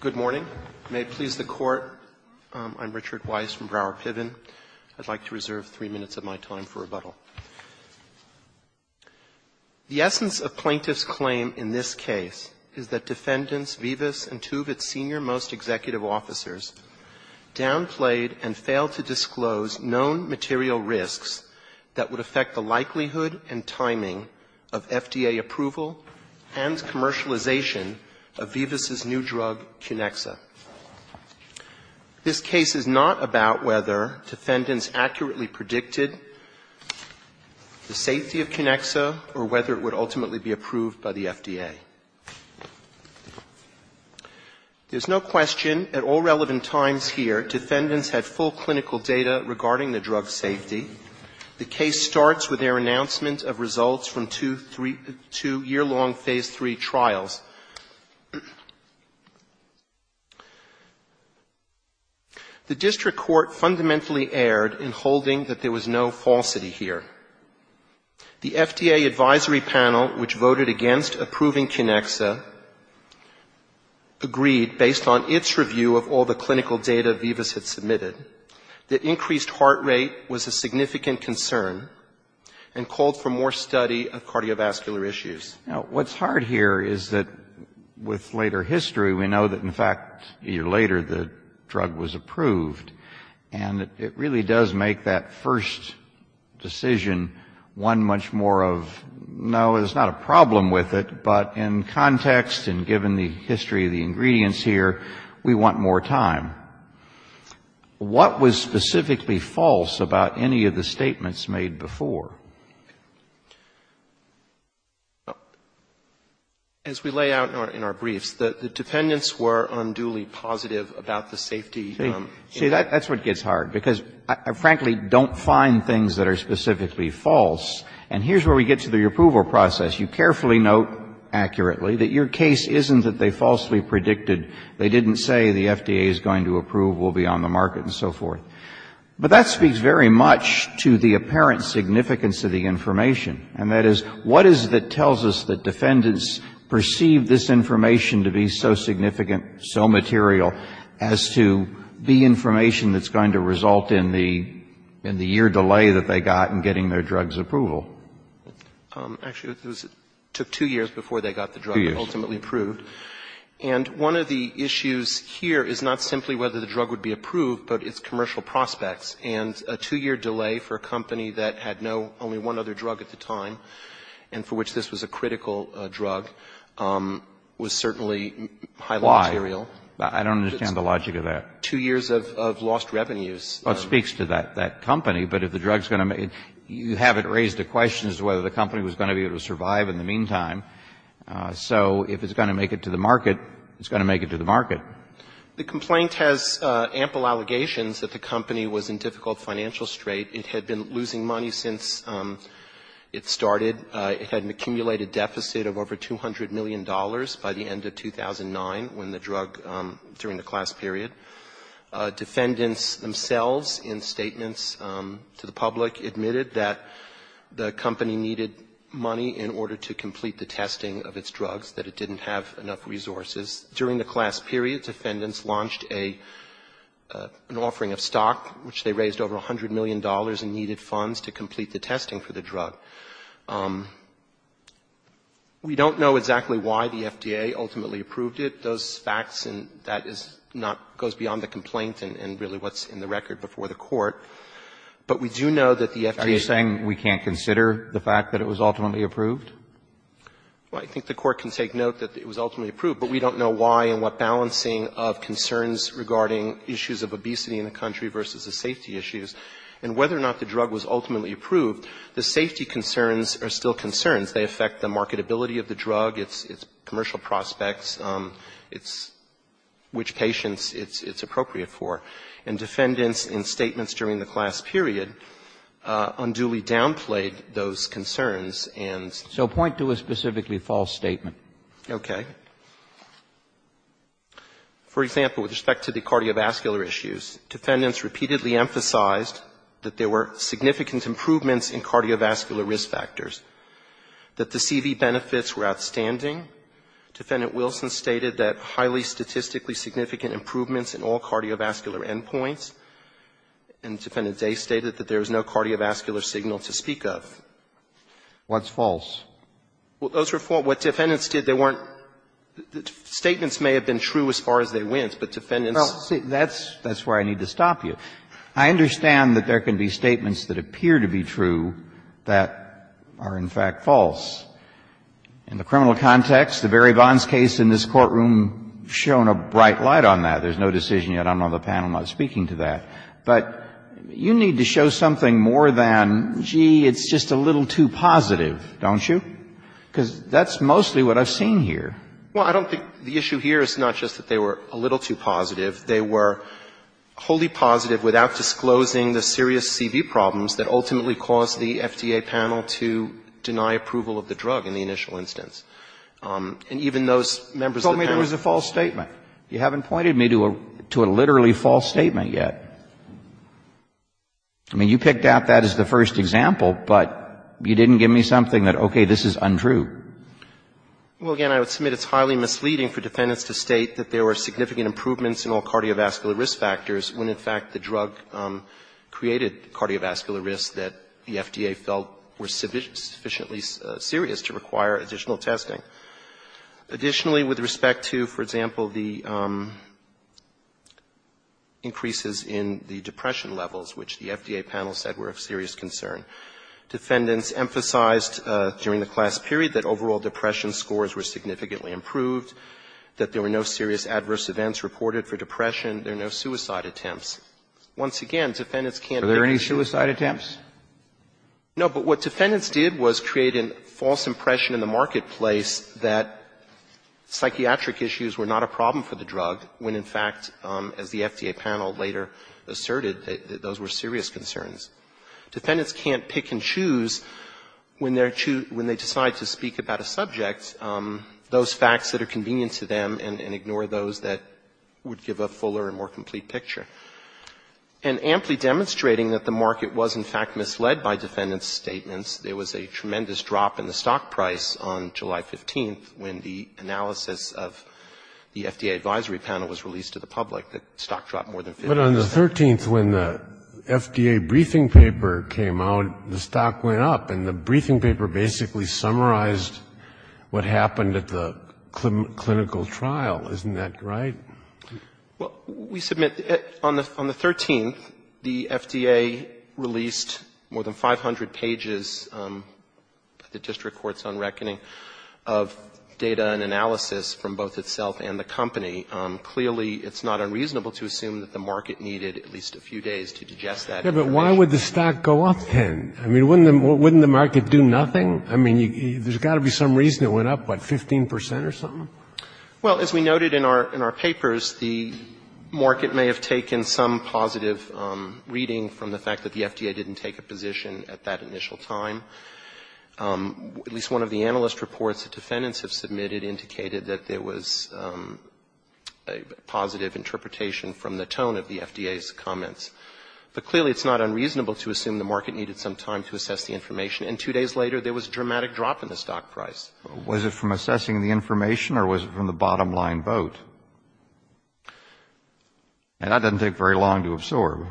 Good morning. May it please the Court, I'm Richard Weiss from Broward Piven. I'd like to reserve three minutes of my time for rebuttal. The essence of plaintiff's claim in this case is that defendants Vivus and two of its senior most executive officers downplayed and failed to disclose known material risks that would affect the likelihood and timing of FDA approval and commercialization of Vivus' new drug Kinexa. This case is not about whether defendants accurately predicted the safety of Kinexa or whether it would ultimately be approved by the FDA. There's no question at all relevant times here defendants had full clinical data regarding the drug's safety. The case starts with their announcement of results from two year-long Phase III trials. The district court fundamentally erred in holding that there was no falsity here. The FDA advisory panel, which voted against approving Kinexa, agreed, based on its review of all the clinical data Vivus had submitted, that increased heart rate was a significant concern and called for more study of cardiovascular issues. What's hard here is that with later history we know that in fact a year later the drug was approved, and it really does make that first decision one much more of, no, there's not a problem with it, but in context and given the history of the ingredients here, we want more time. What was specifically false about any of the statements made before? As we lay out in our briefs, the defendants were unduly positive about the safety. See, that's what gets hard, because I frankly don't find things that are specifically false. And here's where we get to the approval process. You carefully note accurately that your case isn't that they falsely predicted. They didn't say the FDA is going to approve, we'll be on the market, and so forth. But that speaks very much to the apparent significance of the information, and that is, what is it that tells us that defendants perceive this information to be so significant, so material, as to be information that's going to result in the year delay that they got in getting their drugs approval? Actually, it took two years before they got the drug ultimately approved. And one of the issues here is not simply whether the drug would be approved, but its commercial prospects. And a two-year delay for a company that had no, only one other drug at the time, and for which this was a critical drug, was certainly highly material. Why? I don't understand the logic of that. Two years of lost revenues. Well, it speaks to that company. But if the drug's going to make it, you haven't raised the question as to whether the company was going to be able to survive in the meantime. So if it's going to make it to the market, it's going to make it to the market. The complaint has ample allegations that the company was in difficult financial strait. It had been losing money since it started. It had an accumulated deficit of over $200 million by the end of 2009, when the drug, during the class period. Defendants themselves, in statements to the public, admitted that the company needed money in order to complete the testing of its drugs, that it didn't have enough resources. During the class period, defendants launched a, an offering of stock, which they raised over $100 million in needed funds to complete the testing for the drug. We don't know exactly why the FDA ultimately approved it. Those facts and that is not, goes beyond the complaint and really what's in the record before the Court. But we do know that the FDA. Are you saying we can't consider the fact that it was ultimately approved? Well, I think the Court can take note that it was ultimately approved, but we don't know why and what balancing of concerns regarding issues of obesity in the country versus the safety issues, and whether or not the drug was ultimately approved, the safety concerns are still concerns. They affect the marketability of the drug. It's commercial prospects. It's which patients it's appropriate for. And defendants, in statements during the class period, unduly downplayed those concerns and. So point to a specifically false statement. Okay. For example, with respect to the cardiovascular issues, defendants repeatedly emphasized that there were significant improvements in cardiovascular risk factors, that the CV benefits were outstanding. Defendant Wilson stated that highly statistically significant improvements in all cardiovascular endpoints. And Defendant Day stated that there was no cardiovascular signal to speak of. What's false? Well, those were false. What defendants did, they weren't – statements may have been true as far as they went, but defendants. Well, see, that's where I need to stop you. I understand that there can be statements that appear to be true that are in fact false. In the criminal context, the Barry Bonds case in this courtroom has shown a bright light on that. There's no decision yet. I'm on the panel not speaking to that. But you need to show something more than, gee, it's just a little too positive, don't you? Because that's mostly what I've seen here. Well, I don't think the issue here is not just that they were a little too positive. They were wholly positive without disclosing the serious CV problems that ultimately caused the FDA panel to deny approval of the drug in the initial instance. And even those members of the panel. You told me there was a false statement. You haven't pointed me to a literally false statement yet. I mean, you picked out that as the first example, but you didn't give me something that, okay, this is untrue. Well, again, I would submit it's highly misleading for defendants to state that there were significant improvements in all cardiovascular risk factors when, in fact, the drug created cardiovascular risks that the FDA felt were sufficiently serious to require additional testing. Additionally, with respect to, for example, the increases in the depression levels, which the FDA panel said were of serious concern, defendants emphasized during the class period that overall depression scores were significantly improved, that there were no serious adverse events reported for depression. There are no suicide attempts. Once again, defendants can't make a decision. Are there any suicide attempts? No, but what defendants did was create a false impression in the marketplace that psychiatric issues were not a problem for the drug when, in fact, as the FDA panel later asserted, those were serious concerns. Defendants can't pick and choose when they decide to speak about a subject, those facts that are convenient to them and ignore those that would give a fuller and more complete picture. And amply demonstrating that the market was, in fact, misled by defendants' statements, there was a tremendous drop in the stock price on July 15th when the analysis of the FDA advisory panel was released to the public, that stock dropped more than 50%. But on the 13th, when the FDA briefing paper came out, the stock went up, and the briefing paper basically summarized what happened at the clinical trial. Isn't that right? Well, we submit on the 13th, the FDA released more than 500 pages, the district court's own reckoning, of data and analysis from both itself and the company. Clearly, it's not unreasonable to assume that the market needed at least a few days to digest that information. Yeah, but why would the stock go up then? I mean, wouldn't the market do nothing? I mean, there's got to be some reason it went up, what, 15% or something? Well, as we noted in our papers, the market may have taken some positive reading from the fact that the FDA didn't take a position at that initial time. At least one of the analyst reports that defendants have submitted indicated that there was a positive interpretation from the tone of the FDA's comments. But clearly, it's not unreasonable to assume the market needed some time to assess the information. And two days later, there was a dramatic drop in the stock price. Was it from assessing the information or was it from the bottom line vote? And that doesn't take very long to absorb.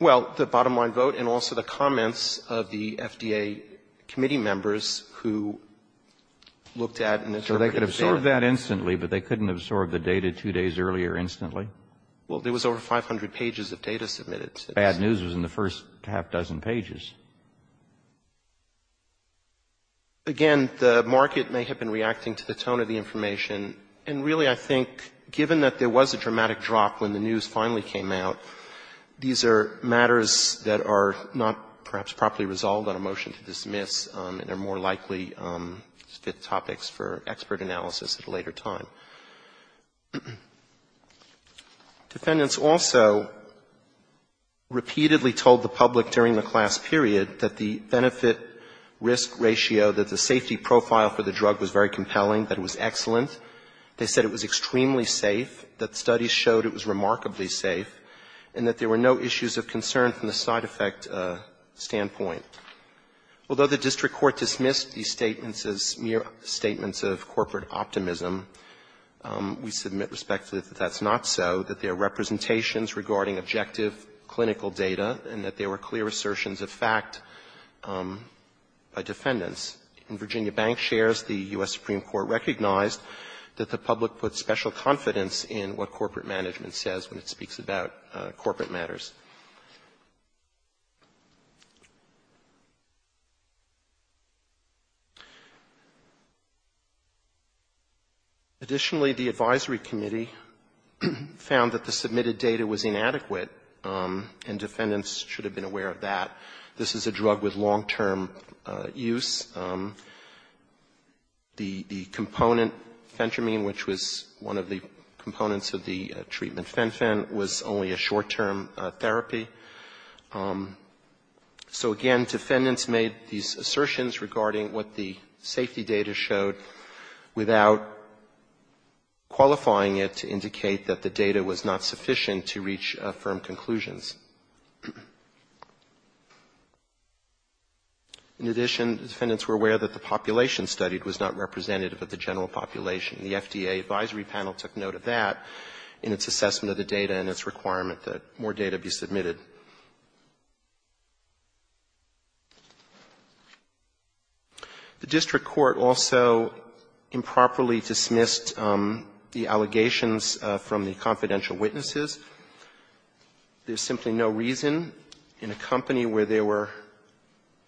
Well, the bottom line vote and also the comments of the FDA committee members who looked at and interpreted the data. So they could absorb that instantly, but they couldn't absorb the data two days earlier instantly? Well, there was over 500 pages of data submitted. Bad news was in the first half dozen pages. Again, the market may have been reacting to the tone of the information. And really, I think, given that there was a dramatic drop when the news finally came out, these are matters that are not perhaps properly resolved on a motion to dismiss and are more likely to fit topics for expert analysis at a later time. Defendants also repeatedly told the public during the class period that the benefit risk ratio, that the safety profile for the drug was very compelling, that it was excellent, they said it was extremely safe, that studies showed it was remarkably safe, and that there were no issues of concern from the side effect standpoint. Although the district court dismissed these statements as mere statements of corporate optimism, we submit respectively that that's not so, that there are representations regarding objective clinical data, and that there were clear assertions of fact by defendants. In Virginia Bank shares, the U.S. Supreme Court recognized that the public put special confidence in what corporate management says when it speaks about corporate matters. Additionally, the advisory committee found that the submitted data was inadequate, and defendants should have been aware of that. This is a drug with long-term use. The component Fentramine, which was one of the components of the treatment Fen-Phen, was only a short-term therapy. So again, defendants made these assertions regarding what the safety data showed without qualifying it to indicate that the data was not sufficient to reach firm conclusions. In addition, defendants were aware that the population studied was not representative of the general population. The FDA advisory panel took note of that in its assessment of the data and its The district court also improperly dismissed the allegations from the confidential witnesses. There's simply no reason in a company where there were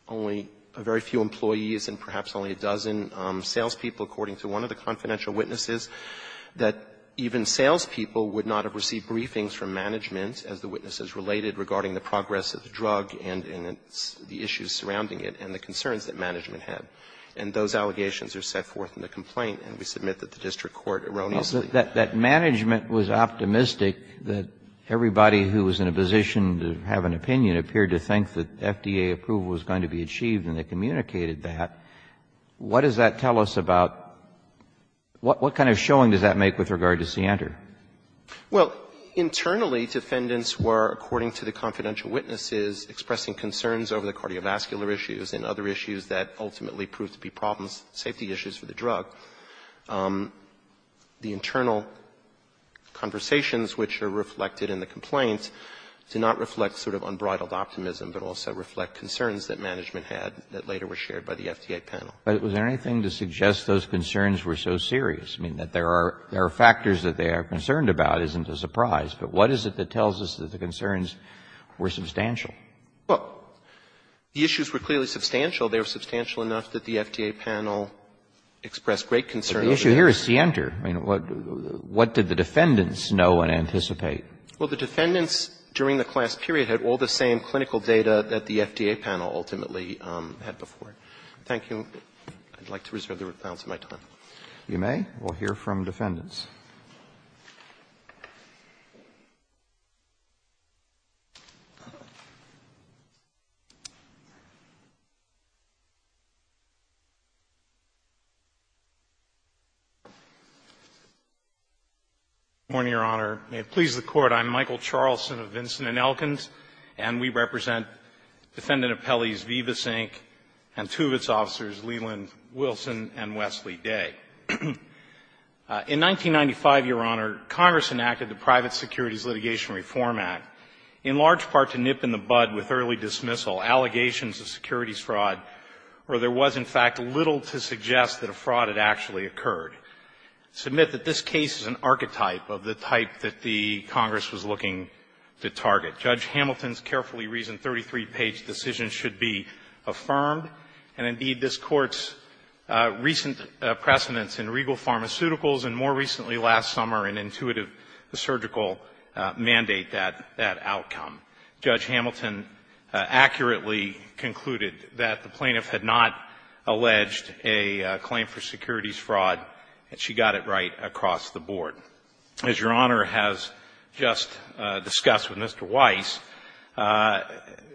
only a very few employees and perhaps only a dozen salespeople, according to one of the confidential witnesses, that even salespeople would not have received briefings from management as the witnesses related regarding the progress of the drug and the issues surrounding it and the concerns that management had. And those allegations are set forth in the complaint, and we submit that the district court erroneously That management was optimistic that everybody who was in a position to have an opinion appeared to think that FDA approval was going to be achieved, and they communicated that. What does that tell us about what kind of showing does that make with regard to Center? Well, internally, defendants were, according to the confidential witnesses, expressing concerns over the cardiovascular issues and other issues that ultimately proved to be problems, safety issues for the drug. The internal conversations which are reflected in the complaint do not reflect sort of unbridled optimism, but also reflect concerns that management had that later were shared by the FDA panel. But was there anything to suggest those concerns were so serious? I mean, that there are factors that they are concerned about isn't a surprise. But what is it that tells us that the concerns were substantial? Well, the issues were clearly substantial. They were substantial enough that the FDA panel expressed great concern. But the issue here is Center. I mean, what did the defendants know and anticipate? Well, the defendants during the class period had all the same clinical data that the FDA panel ultimately had before. Thank you. I'd like to reserve the balance of my time. If you may, we'll hear from defendants. Good morning, Your Honor. May it please the Court. I'm Michael Charlson of Vinson & Elkins, and we represent Defendant Appellees Vivasink and two of its officers, Leland Wilson and Wesley Day. In 1995, Your Honor, Congress enacted the Private Securities Litigation Reform Act, in large part to nip in the bud with early dismissal allegations of securities fraud where there was, in fact, little to suggest that a fraud had actually occurred. Submit that this case is an archetype of the type that the Congress was looking to target. Judge Hamilton's carefully reasoned 33-page decision should be affirmed, and indeed, this Court's recent precedents in Regal Pharmaceuticals and more recently last summer in Intuitive Surgical mandate that outcome. Judge Hamilton accurately concluded that the plaintiff had not alleged a claim for securities fraud, and she got it right across the board. As Your Honor has just discussed with Mr. Weiss,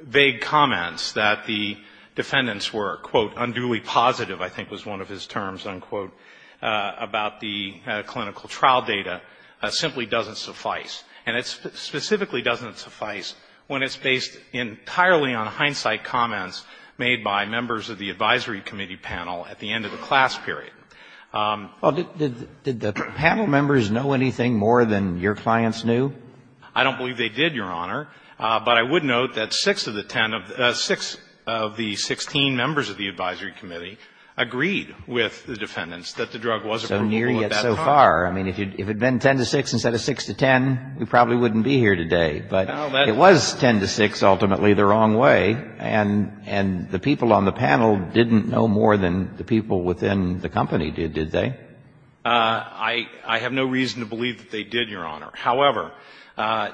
vague comments that the defendants were, quote, unduly positive, I think was one of his terms, unquote, about the clinical trial data simply doesn't suffice. And it specifically doesn't suffice when it's based entirely on hindsight comments made by members of the Advisory Committee panel at the end of the class period. Well, did the panel members know anything more than your clients knew? I don't believe they did, Your Honor. But I would note that six of the ten of the 16 members of the Advisory Committee agreed with the defendants that the drug wasn't removable at that time. So near yet so far. I mean, if it had been 10 to 6 instead of 6 to 10, we probably wouldn't be here today. But it was 10 to 6 ultimately the wrong way, and the people on the panel didn't know more than the people within the company did, did they? I have no reason to believe that they did, Your Honor. However,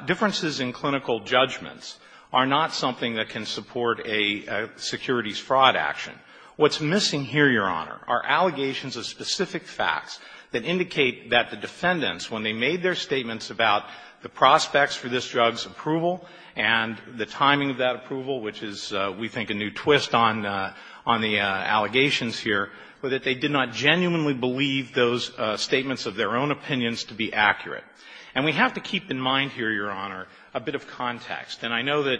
differences in clinical judgments are not something that can support a securities fraud action. What's missing here, Your Honor, are allegations of specific facts that indicate that the defendants, when they made their statements about the prospects for this drug's approval and the timing of that approval, which is, we think, a new twist on the allegations here, were that they did not genuinely believe those statements of their own opinions to be accurate. And we have to keep in mind here, Your Honor, a bit of context. And I know that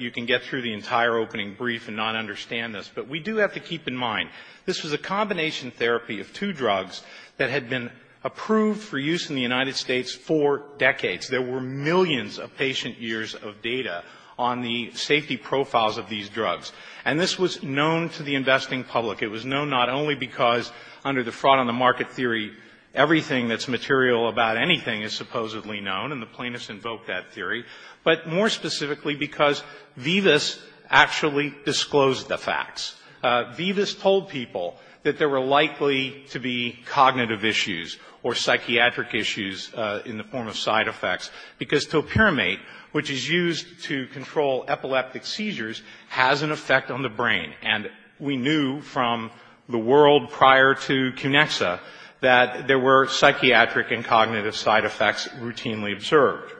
you can get through the entire opening brief and not understand this, but we do have to keep in mind this was a combination therapy of two drugs that had been approved for use in the United States for decades. There were millions of patient years of data on the safety profiles of these drugs. And this was known to the investing public. It was known not only because under the fraud on the market theory, everything that's material about anything is supposedly known, and the plaintiffs invoked that theory, but more specifically because Vivas actually disclosed the facts. Vivas told people that there were likely to be cognitive issues or psychiatric issues in the form of side effects, because topiramate, which is used to control epileptic seizures, has an effect on the brain. And we knew from the world prior to Cunexa that there were psychiatric and cognitive side effects routinely observed.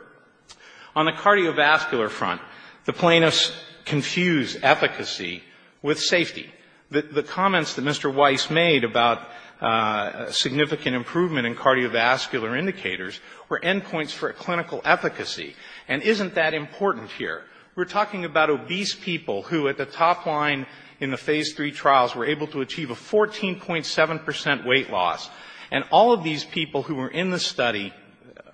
On the cardiovascular front, the plaintiffs confused efficacy with safety. The comments that Mr. Weiss made about significant improvement in cardiovascular indicators were end points for clinical efficacy. And isn't that important here? We're talking about obese people who at the top line in the Phase III trials were able to achieve a 14.7 percent weight loss. And all of these people who were in the study,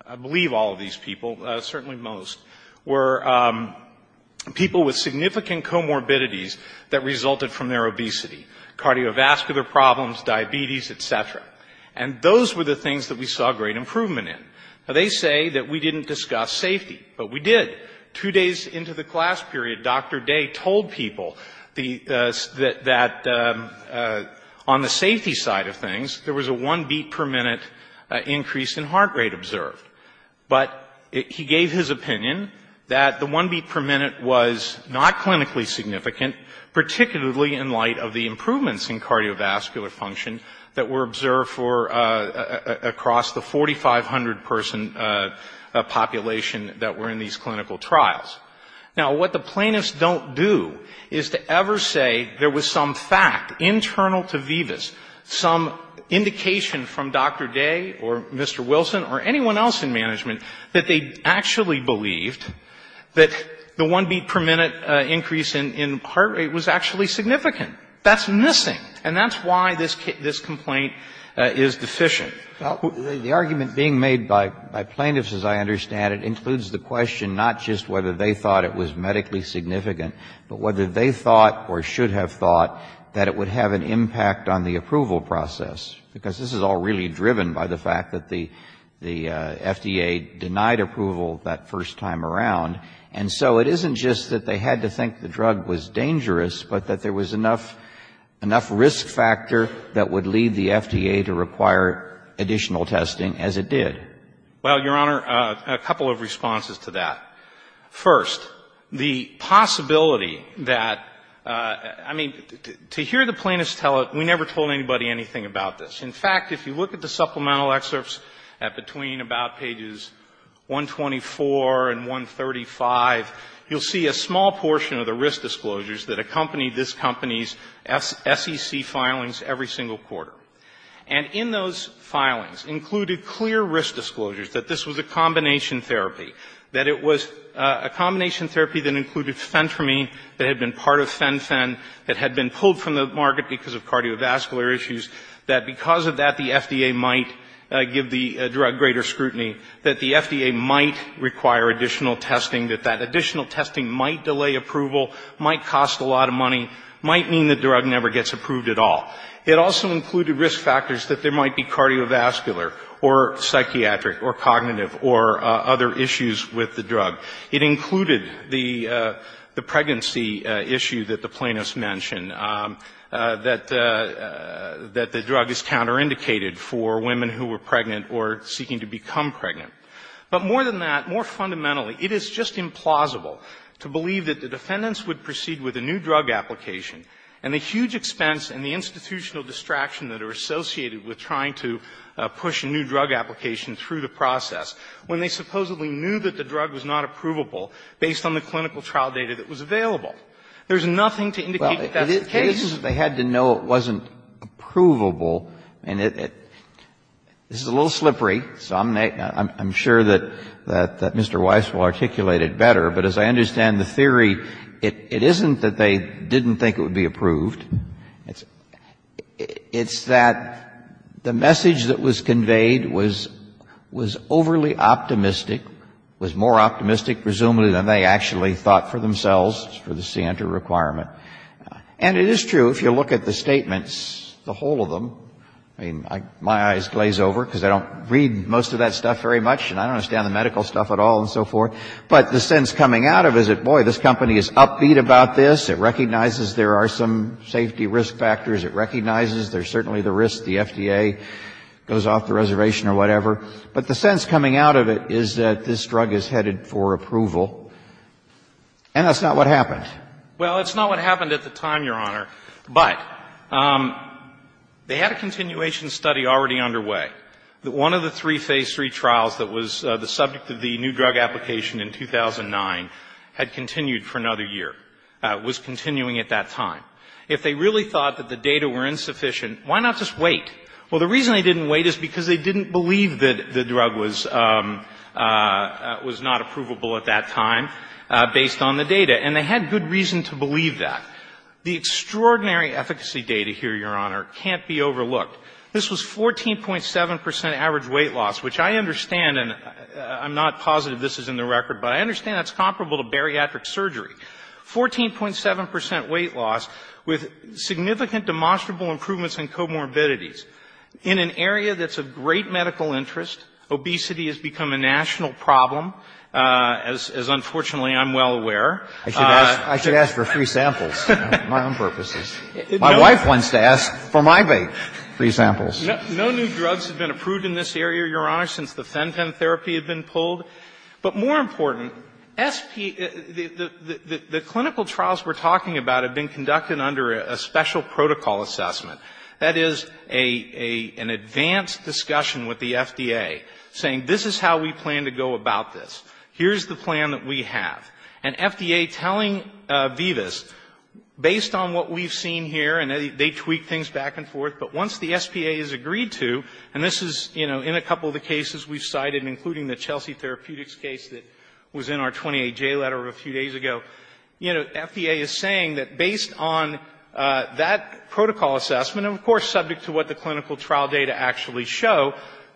I believe all of these people, certainly most, were people with significant comorbidities that resulted from their obesity, cardiovascular problems, diabetes, et cetera. And those were the things that we saw great improvement in. Now, they say that we didn't discuss safety. But we did. Two days into the class period, Dr. Day told people that on the safety side of things, there was a one beat per minute increase in heart rate observed. But he gave his opinion that the one beat per minute was not clinically significant, particularly in light of the improvements in cardiovascular function that were observed for across the 4,500 person population that were in these clinical trials. Now, what the plaintiffs don't do is to ever say there was some fact internal to Vivas, some indication from Dr. Day or Mr. Wilson or anyone else in management that they actually believed that the one beat per minute increase in heart rate was actually significant. That's missing. And that's why this complaint is deficient. The argument being made by plaintiffs, as I understand it, includes the question not just whether they thought it was medically significant, but whether they thought or should have thought that it would have an impact on the approval process. Because this is all really driven by the fact that the FDA denied approval that first time around. And so it isn't just that they had to think the drug was dangerous, but that there was enough risk factor that would lead the FDA to require additional testing, as it did. Well, Your Honor, a couple of responses to that. First, the possibility that, I mean, to hear the plaintiffs tell it, we never told anybody anything about this. In fact, if you look at the supplemental excerpts between about pages 124 and 134, 135, you'll see a small portion of the risk disclosures that accompanied this company's SEC filings every single quarter. And in those filings included clear risk disclosures that this was a combination therapy, that it was a combination therapy that included Phentermine that had been part of PhenPhen, that had been pulled from the market because of cardiovascular issues, that because of that the FDA might give the drug greater scrutiny, that the additional testing might delay approval, might cost a lot of money, might mean the drug never gets approved at all. It also included risk factors that there might be cardiovascular or psychiatric or cognitive or other issues with the drug. It included the pregnancy issue that the plaintiffs mentioned, that the drug is counterindicated for women who were pregnant or seeking to become pregnant. But more than that, more fundamentally, it is just implausible to believe that the defendants would proceed with a new drug application, and the huge expense and the institutional distraction that are associated with trying to push a new drug application through the process when they supposedly knew that the drug was not approvable based on the clinical trial data that was available. There's nothing to indicate that that's the case. The reason that they had to know it wasn't approvable, and this is a little slippery, so I'm sure that Mr. Weiss will articulate it better, but as I understand the theory, it isn't that they didn't think it would be approved. It's that the message that was conveyed was overly optimistic, was more optimistic presumably than they actually thought for themselves for the CNTR requirement. And it is true, if you look at the statements, the whole of them, I mean, my eyes glaze over because I don't read most of that stuff very much, and I don't understand the medical stuff at all and so forth. But the sense coming out of it is that, boy, this company is upbeat about this. It recognizes there are some safety risk factors. It recognizes there's certainly the risk the FDA goes off the reservation or whatever. But the sense coming out of it is that this drug is headed for approval. And that's not what happened. Well, it's not what happened at the time, Your Honor. But they had a continuation study already underway. One of the three phase three trials that was the subject of the new drug application in 2009 had continued for another year, was continuing at that time. If they really thought that the data were insufficient, why not just wait? Well, the reason they didn't wait is because they didn't believe that the drug was not approvable at that time based on the data. And they had good reason to believe that. The extraordinary efficacy data here, Your Honor, can't be overlooked. This was 14.7 percent average weight loss, which I understand, and I'm not positive this is in the record, but I understand that's comparable to bariatric surgery. 14.7 percent weight loss with significant demonstrable improvements in comorbidities in an area that's of great medical interest. Obesity has become a national problem, as unfortunately I'm well aware. I should ask for free samples for my own purposes. My wife wants to ask for my free samples. No new drugs have been approved in this area, Your Honor, since the Fenton therapy had been pulled. But more important, the clinical trials we're talking about have been conducted under a special protocol assessment. That is an advanced discussion with the FDA saying this is how we plan to go about this. Here's the plan that we have. And FDA telling Vivas, based on what we've seen here, and they tweak things back and forth, but once the SPA has agreed to, and this is, you know, in a couple of the cases we've cited, including the Chelsea Therapeutics case that was in our 28J letter a few days ago, you know, FDA is saying that based on that protocol assessment, and of course subject to what the clinical trial data actually show,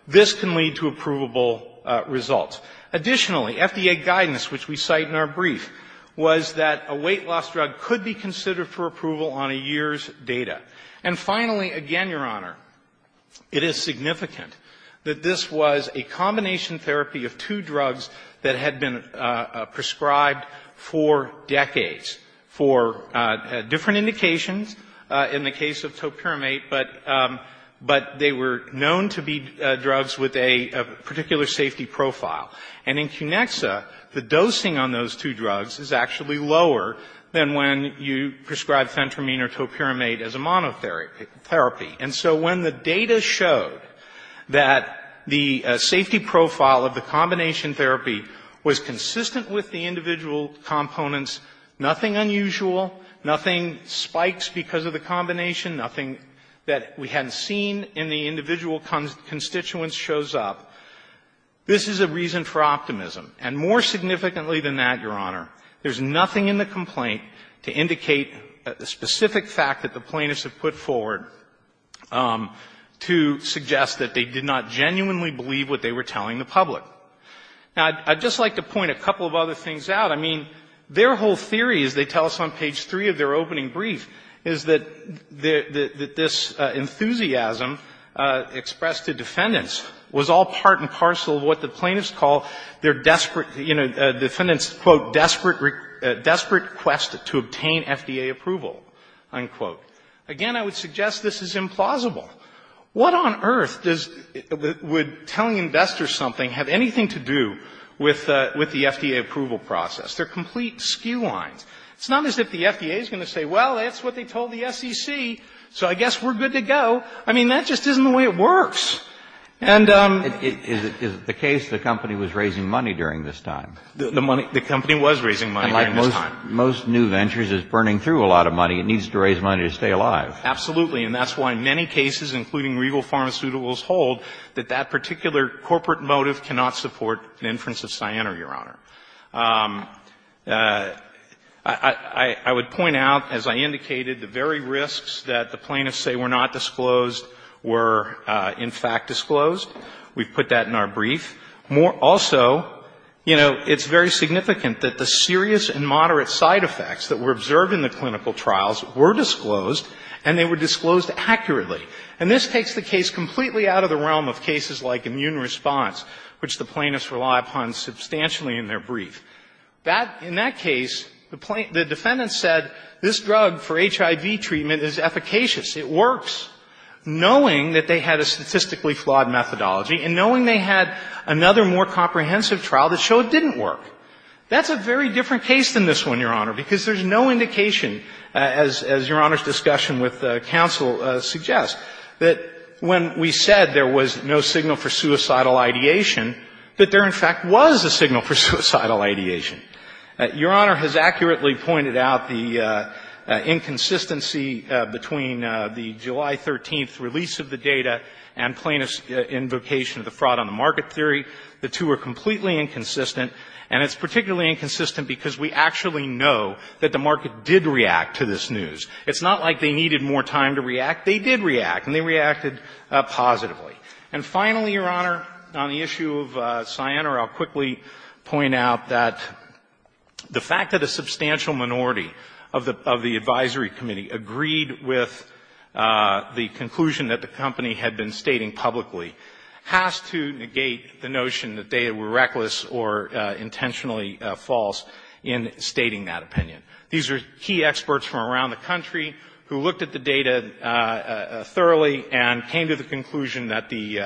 this can lead to approvable results. Additionally, FDA guidance, which we cite in our brief, was that a weight loss drug could be considered for approval on a year's data. And finally, again, Your Honor, it is significant that this was a combination therapy of two drugs that had been prescribed for decades for different indications in the case of topiramate, but they were known to be drugs with a particular safety profile. And in Cunexa, the dosing on those two drugs is actually lower than when you prescribed fentramine or topiramate as a monotherapy. And so when the data showed that the safety profile of the combination therapy was consistent with the individual components, nothing unusual, nothing spikes because of the combination, nothing that we hadn't seen in the individual constituents shows up, this is a reason for optimism. And more significantly than that, Your Honor, there's nothing in the complaint to indicate a specific fact that the plaintiffs have put forward to suggest that they did not genuinely believe what they were telling the public. Now, I'd just like to point a couple of other things out. I mean, their whole theory, as they tell us on page 3 of their opening brief, is that this enthusiasm expressed to defendants was all part and parcel of what the plaintiffs call their desperate, you know, defendants' quote, desperate quest to obtain FDA approval, unquote. Again, I would suggest this is implausible. What on earth would telling investors something have anything to do with the FDA approval process? They're complete skew-lines. It's not as if the FDA is going to say, well, that's what they told the SEC, so I guess we're good to go. I mean, that just isn't the way it works. And the company was raising money during this time. And like most new ventures, it's burning through a lot of money. It needs to raise money to stay alive. Absolutely. And that's why many cases, including regal pharmaceuticals, hold that that particular corporate motive cannot support an inference of cyanide, Your Honor. I would point out, as I indicated, the very risks that the plaintiffs say were not disclosed were, in fact, disclosed. We've put that in our brief. Also, you know, it's very significant that the serious and moderate side effects that were observed in the clinical trials were disclosed, and they were disclosed accurately. And this takes the case completely out of the realm of cases like immune response, which the plaintiffs rely upon substantially in their brief. In that case, the defendant said this drug for HIV treatment is efficacious. It works, knowing that they had a statistically flawed methodology and knowing they had another more comprehensive trial that showed it didn't work. That's a very different case than this one, Your Honor, because there's no indication, as Your Honor's discussion with counsel suggests, that when we said there was no signal for suicidal ideation, that there, in fact, was a signal for suicidal ideation. Your Honor has accurately pointed out the inconsistency between the July 13th release of the data and plaintiffs' invocation of the fraud-on-the-market theory. The two are completely inconsistent. And it's particularly inconsistent because we actually know that the market did react to this news. It's not like they needed more time to react. They did react, and they reacted positively. And finally, Your Honor, on the issue of Cyanar, I'll quickly point out that the fact that a substantial minority of the advisory committee agreed with the conclusion that the company had been stating publicly has to negate the notion that they were reckless or intentionally false in stating that opinion. These are key experts from around the country who looked at the data thoroughly and came to the conclusion that the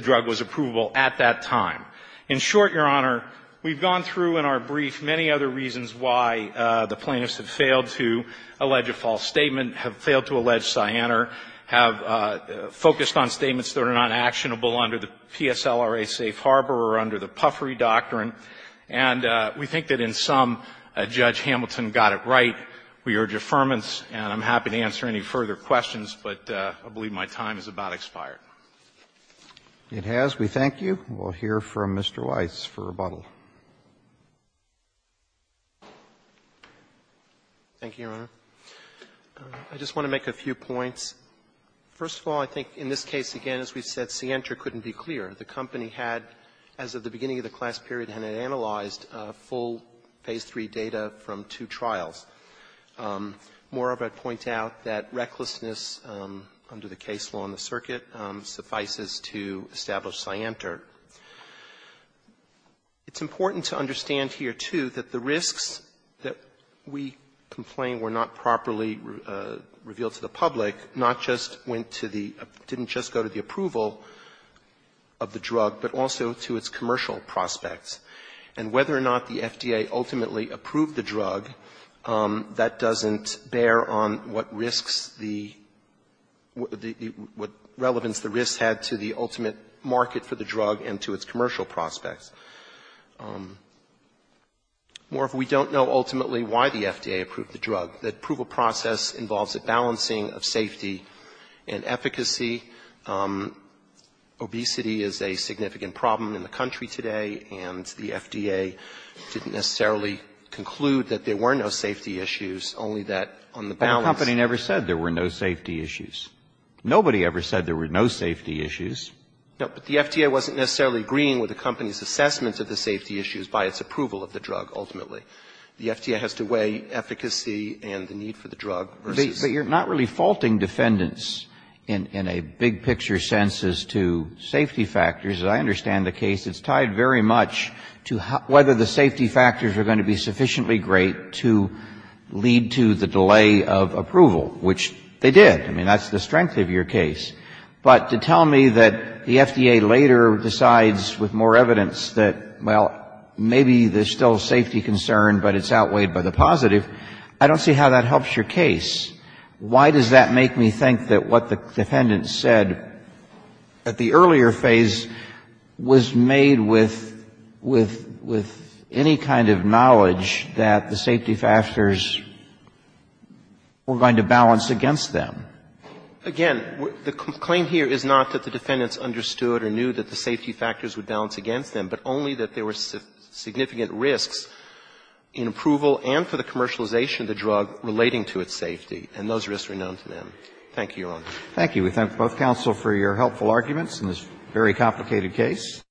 drug was approvable at that time. In short, Your Honor, we've gone through in our brief many other reasons why the plaintiffs have failed to allege a false statement, have failed to allege Cyanar, have focused on statements that are not actionable under the PSLRA safe harbor or under the puffery doctrine. And we think that in sum, Judge Hamilton got it right. We urge affirmance, and I'm happy to answer any further questions, but I believe my time is about expired. Roberts, we thank you. We'll hear from Mr. Weiss for rebuttal. Weiss, thank you, Your Honor. I just want to make a few points. First of all, I think in this case, again, as we've said, Ciantra couldn't be clear. The company had, as of the beginning of the class period, had analyzed full phase III data from two trials. Moreover, I'd point out that recklessness under the case law in the circuit suffices to establish Ciantra. It's important to understand here, too, that the risks that we complain were not properly revealed to the public, not just went to the — didn't just go to the approval of the drug, but also to its commercial prospects. And whether or not the FDA ultimately approved the drug, that doesn't bear on what risks the — what relevance the risks had to the ultimate market for the drug and to its commercial prospects. Moreover, we don't know ultimately why the FDA approved the drug. The approval process involves a balancing of safety and efficacy. Obesity is a significant problem in the country today, and the FDA didn't necessarily conclude that there were no safety issues, only that on the balance — But the company never said there were no safety issues. Nobody ever said there were no safety issues. No, but the FDA wasn't necessarily agreeing with the company's assessment of the safety issues by its approval of the drug, ultimately. The FDA has to weigh efficacy and the need for the drug versus — But you're not really faulting defendants in a big-picture sense as to safety factors. As I understand the case, it's tied very much to whether the safety factors are going to be sufficiently great to lead to the delay of approval, which they did. I mean, that's the strength of your case. But to tell me that the FDA later decides with more evidence that, well, maybe there's still a safety concern, but it's outweighed by the positive, I don't see how that helps your case. Why does that make me think that what the defendants said at the earlier phase was made with any kind of knowledge that the safety factors were going to balance against them? Again, the claim here is not that the defendants understood or knew that the safety factors would balance against them, but only that there were significant risks in approval and for the commercialization of the drug relating to its safety, and those risks were known to them. Thank you, Your Honor. Roberts. Thank you. We thank both counsel for your helpful arguments in this very complicated case.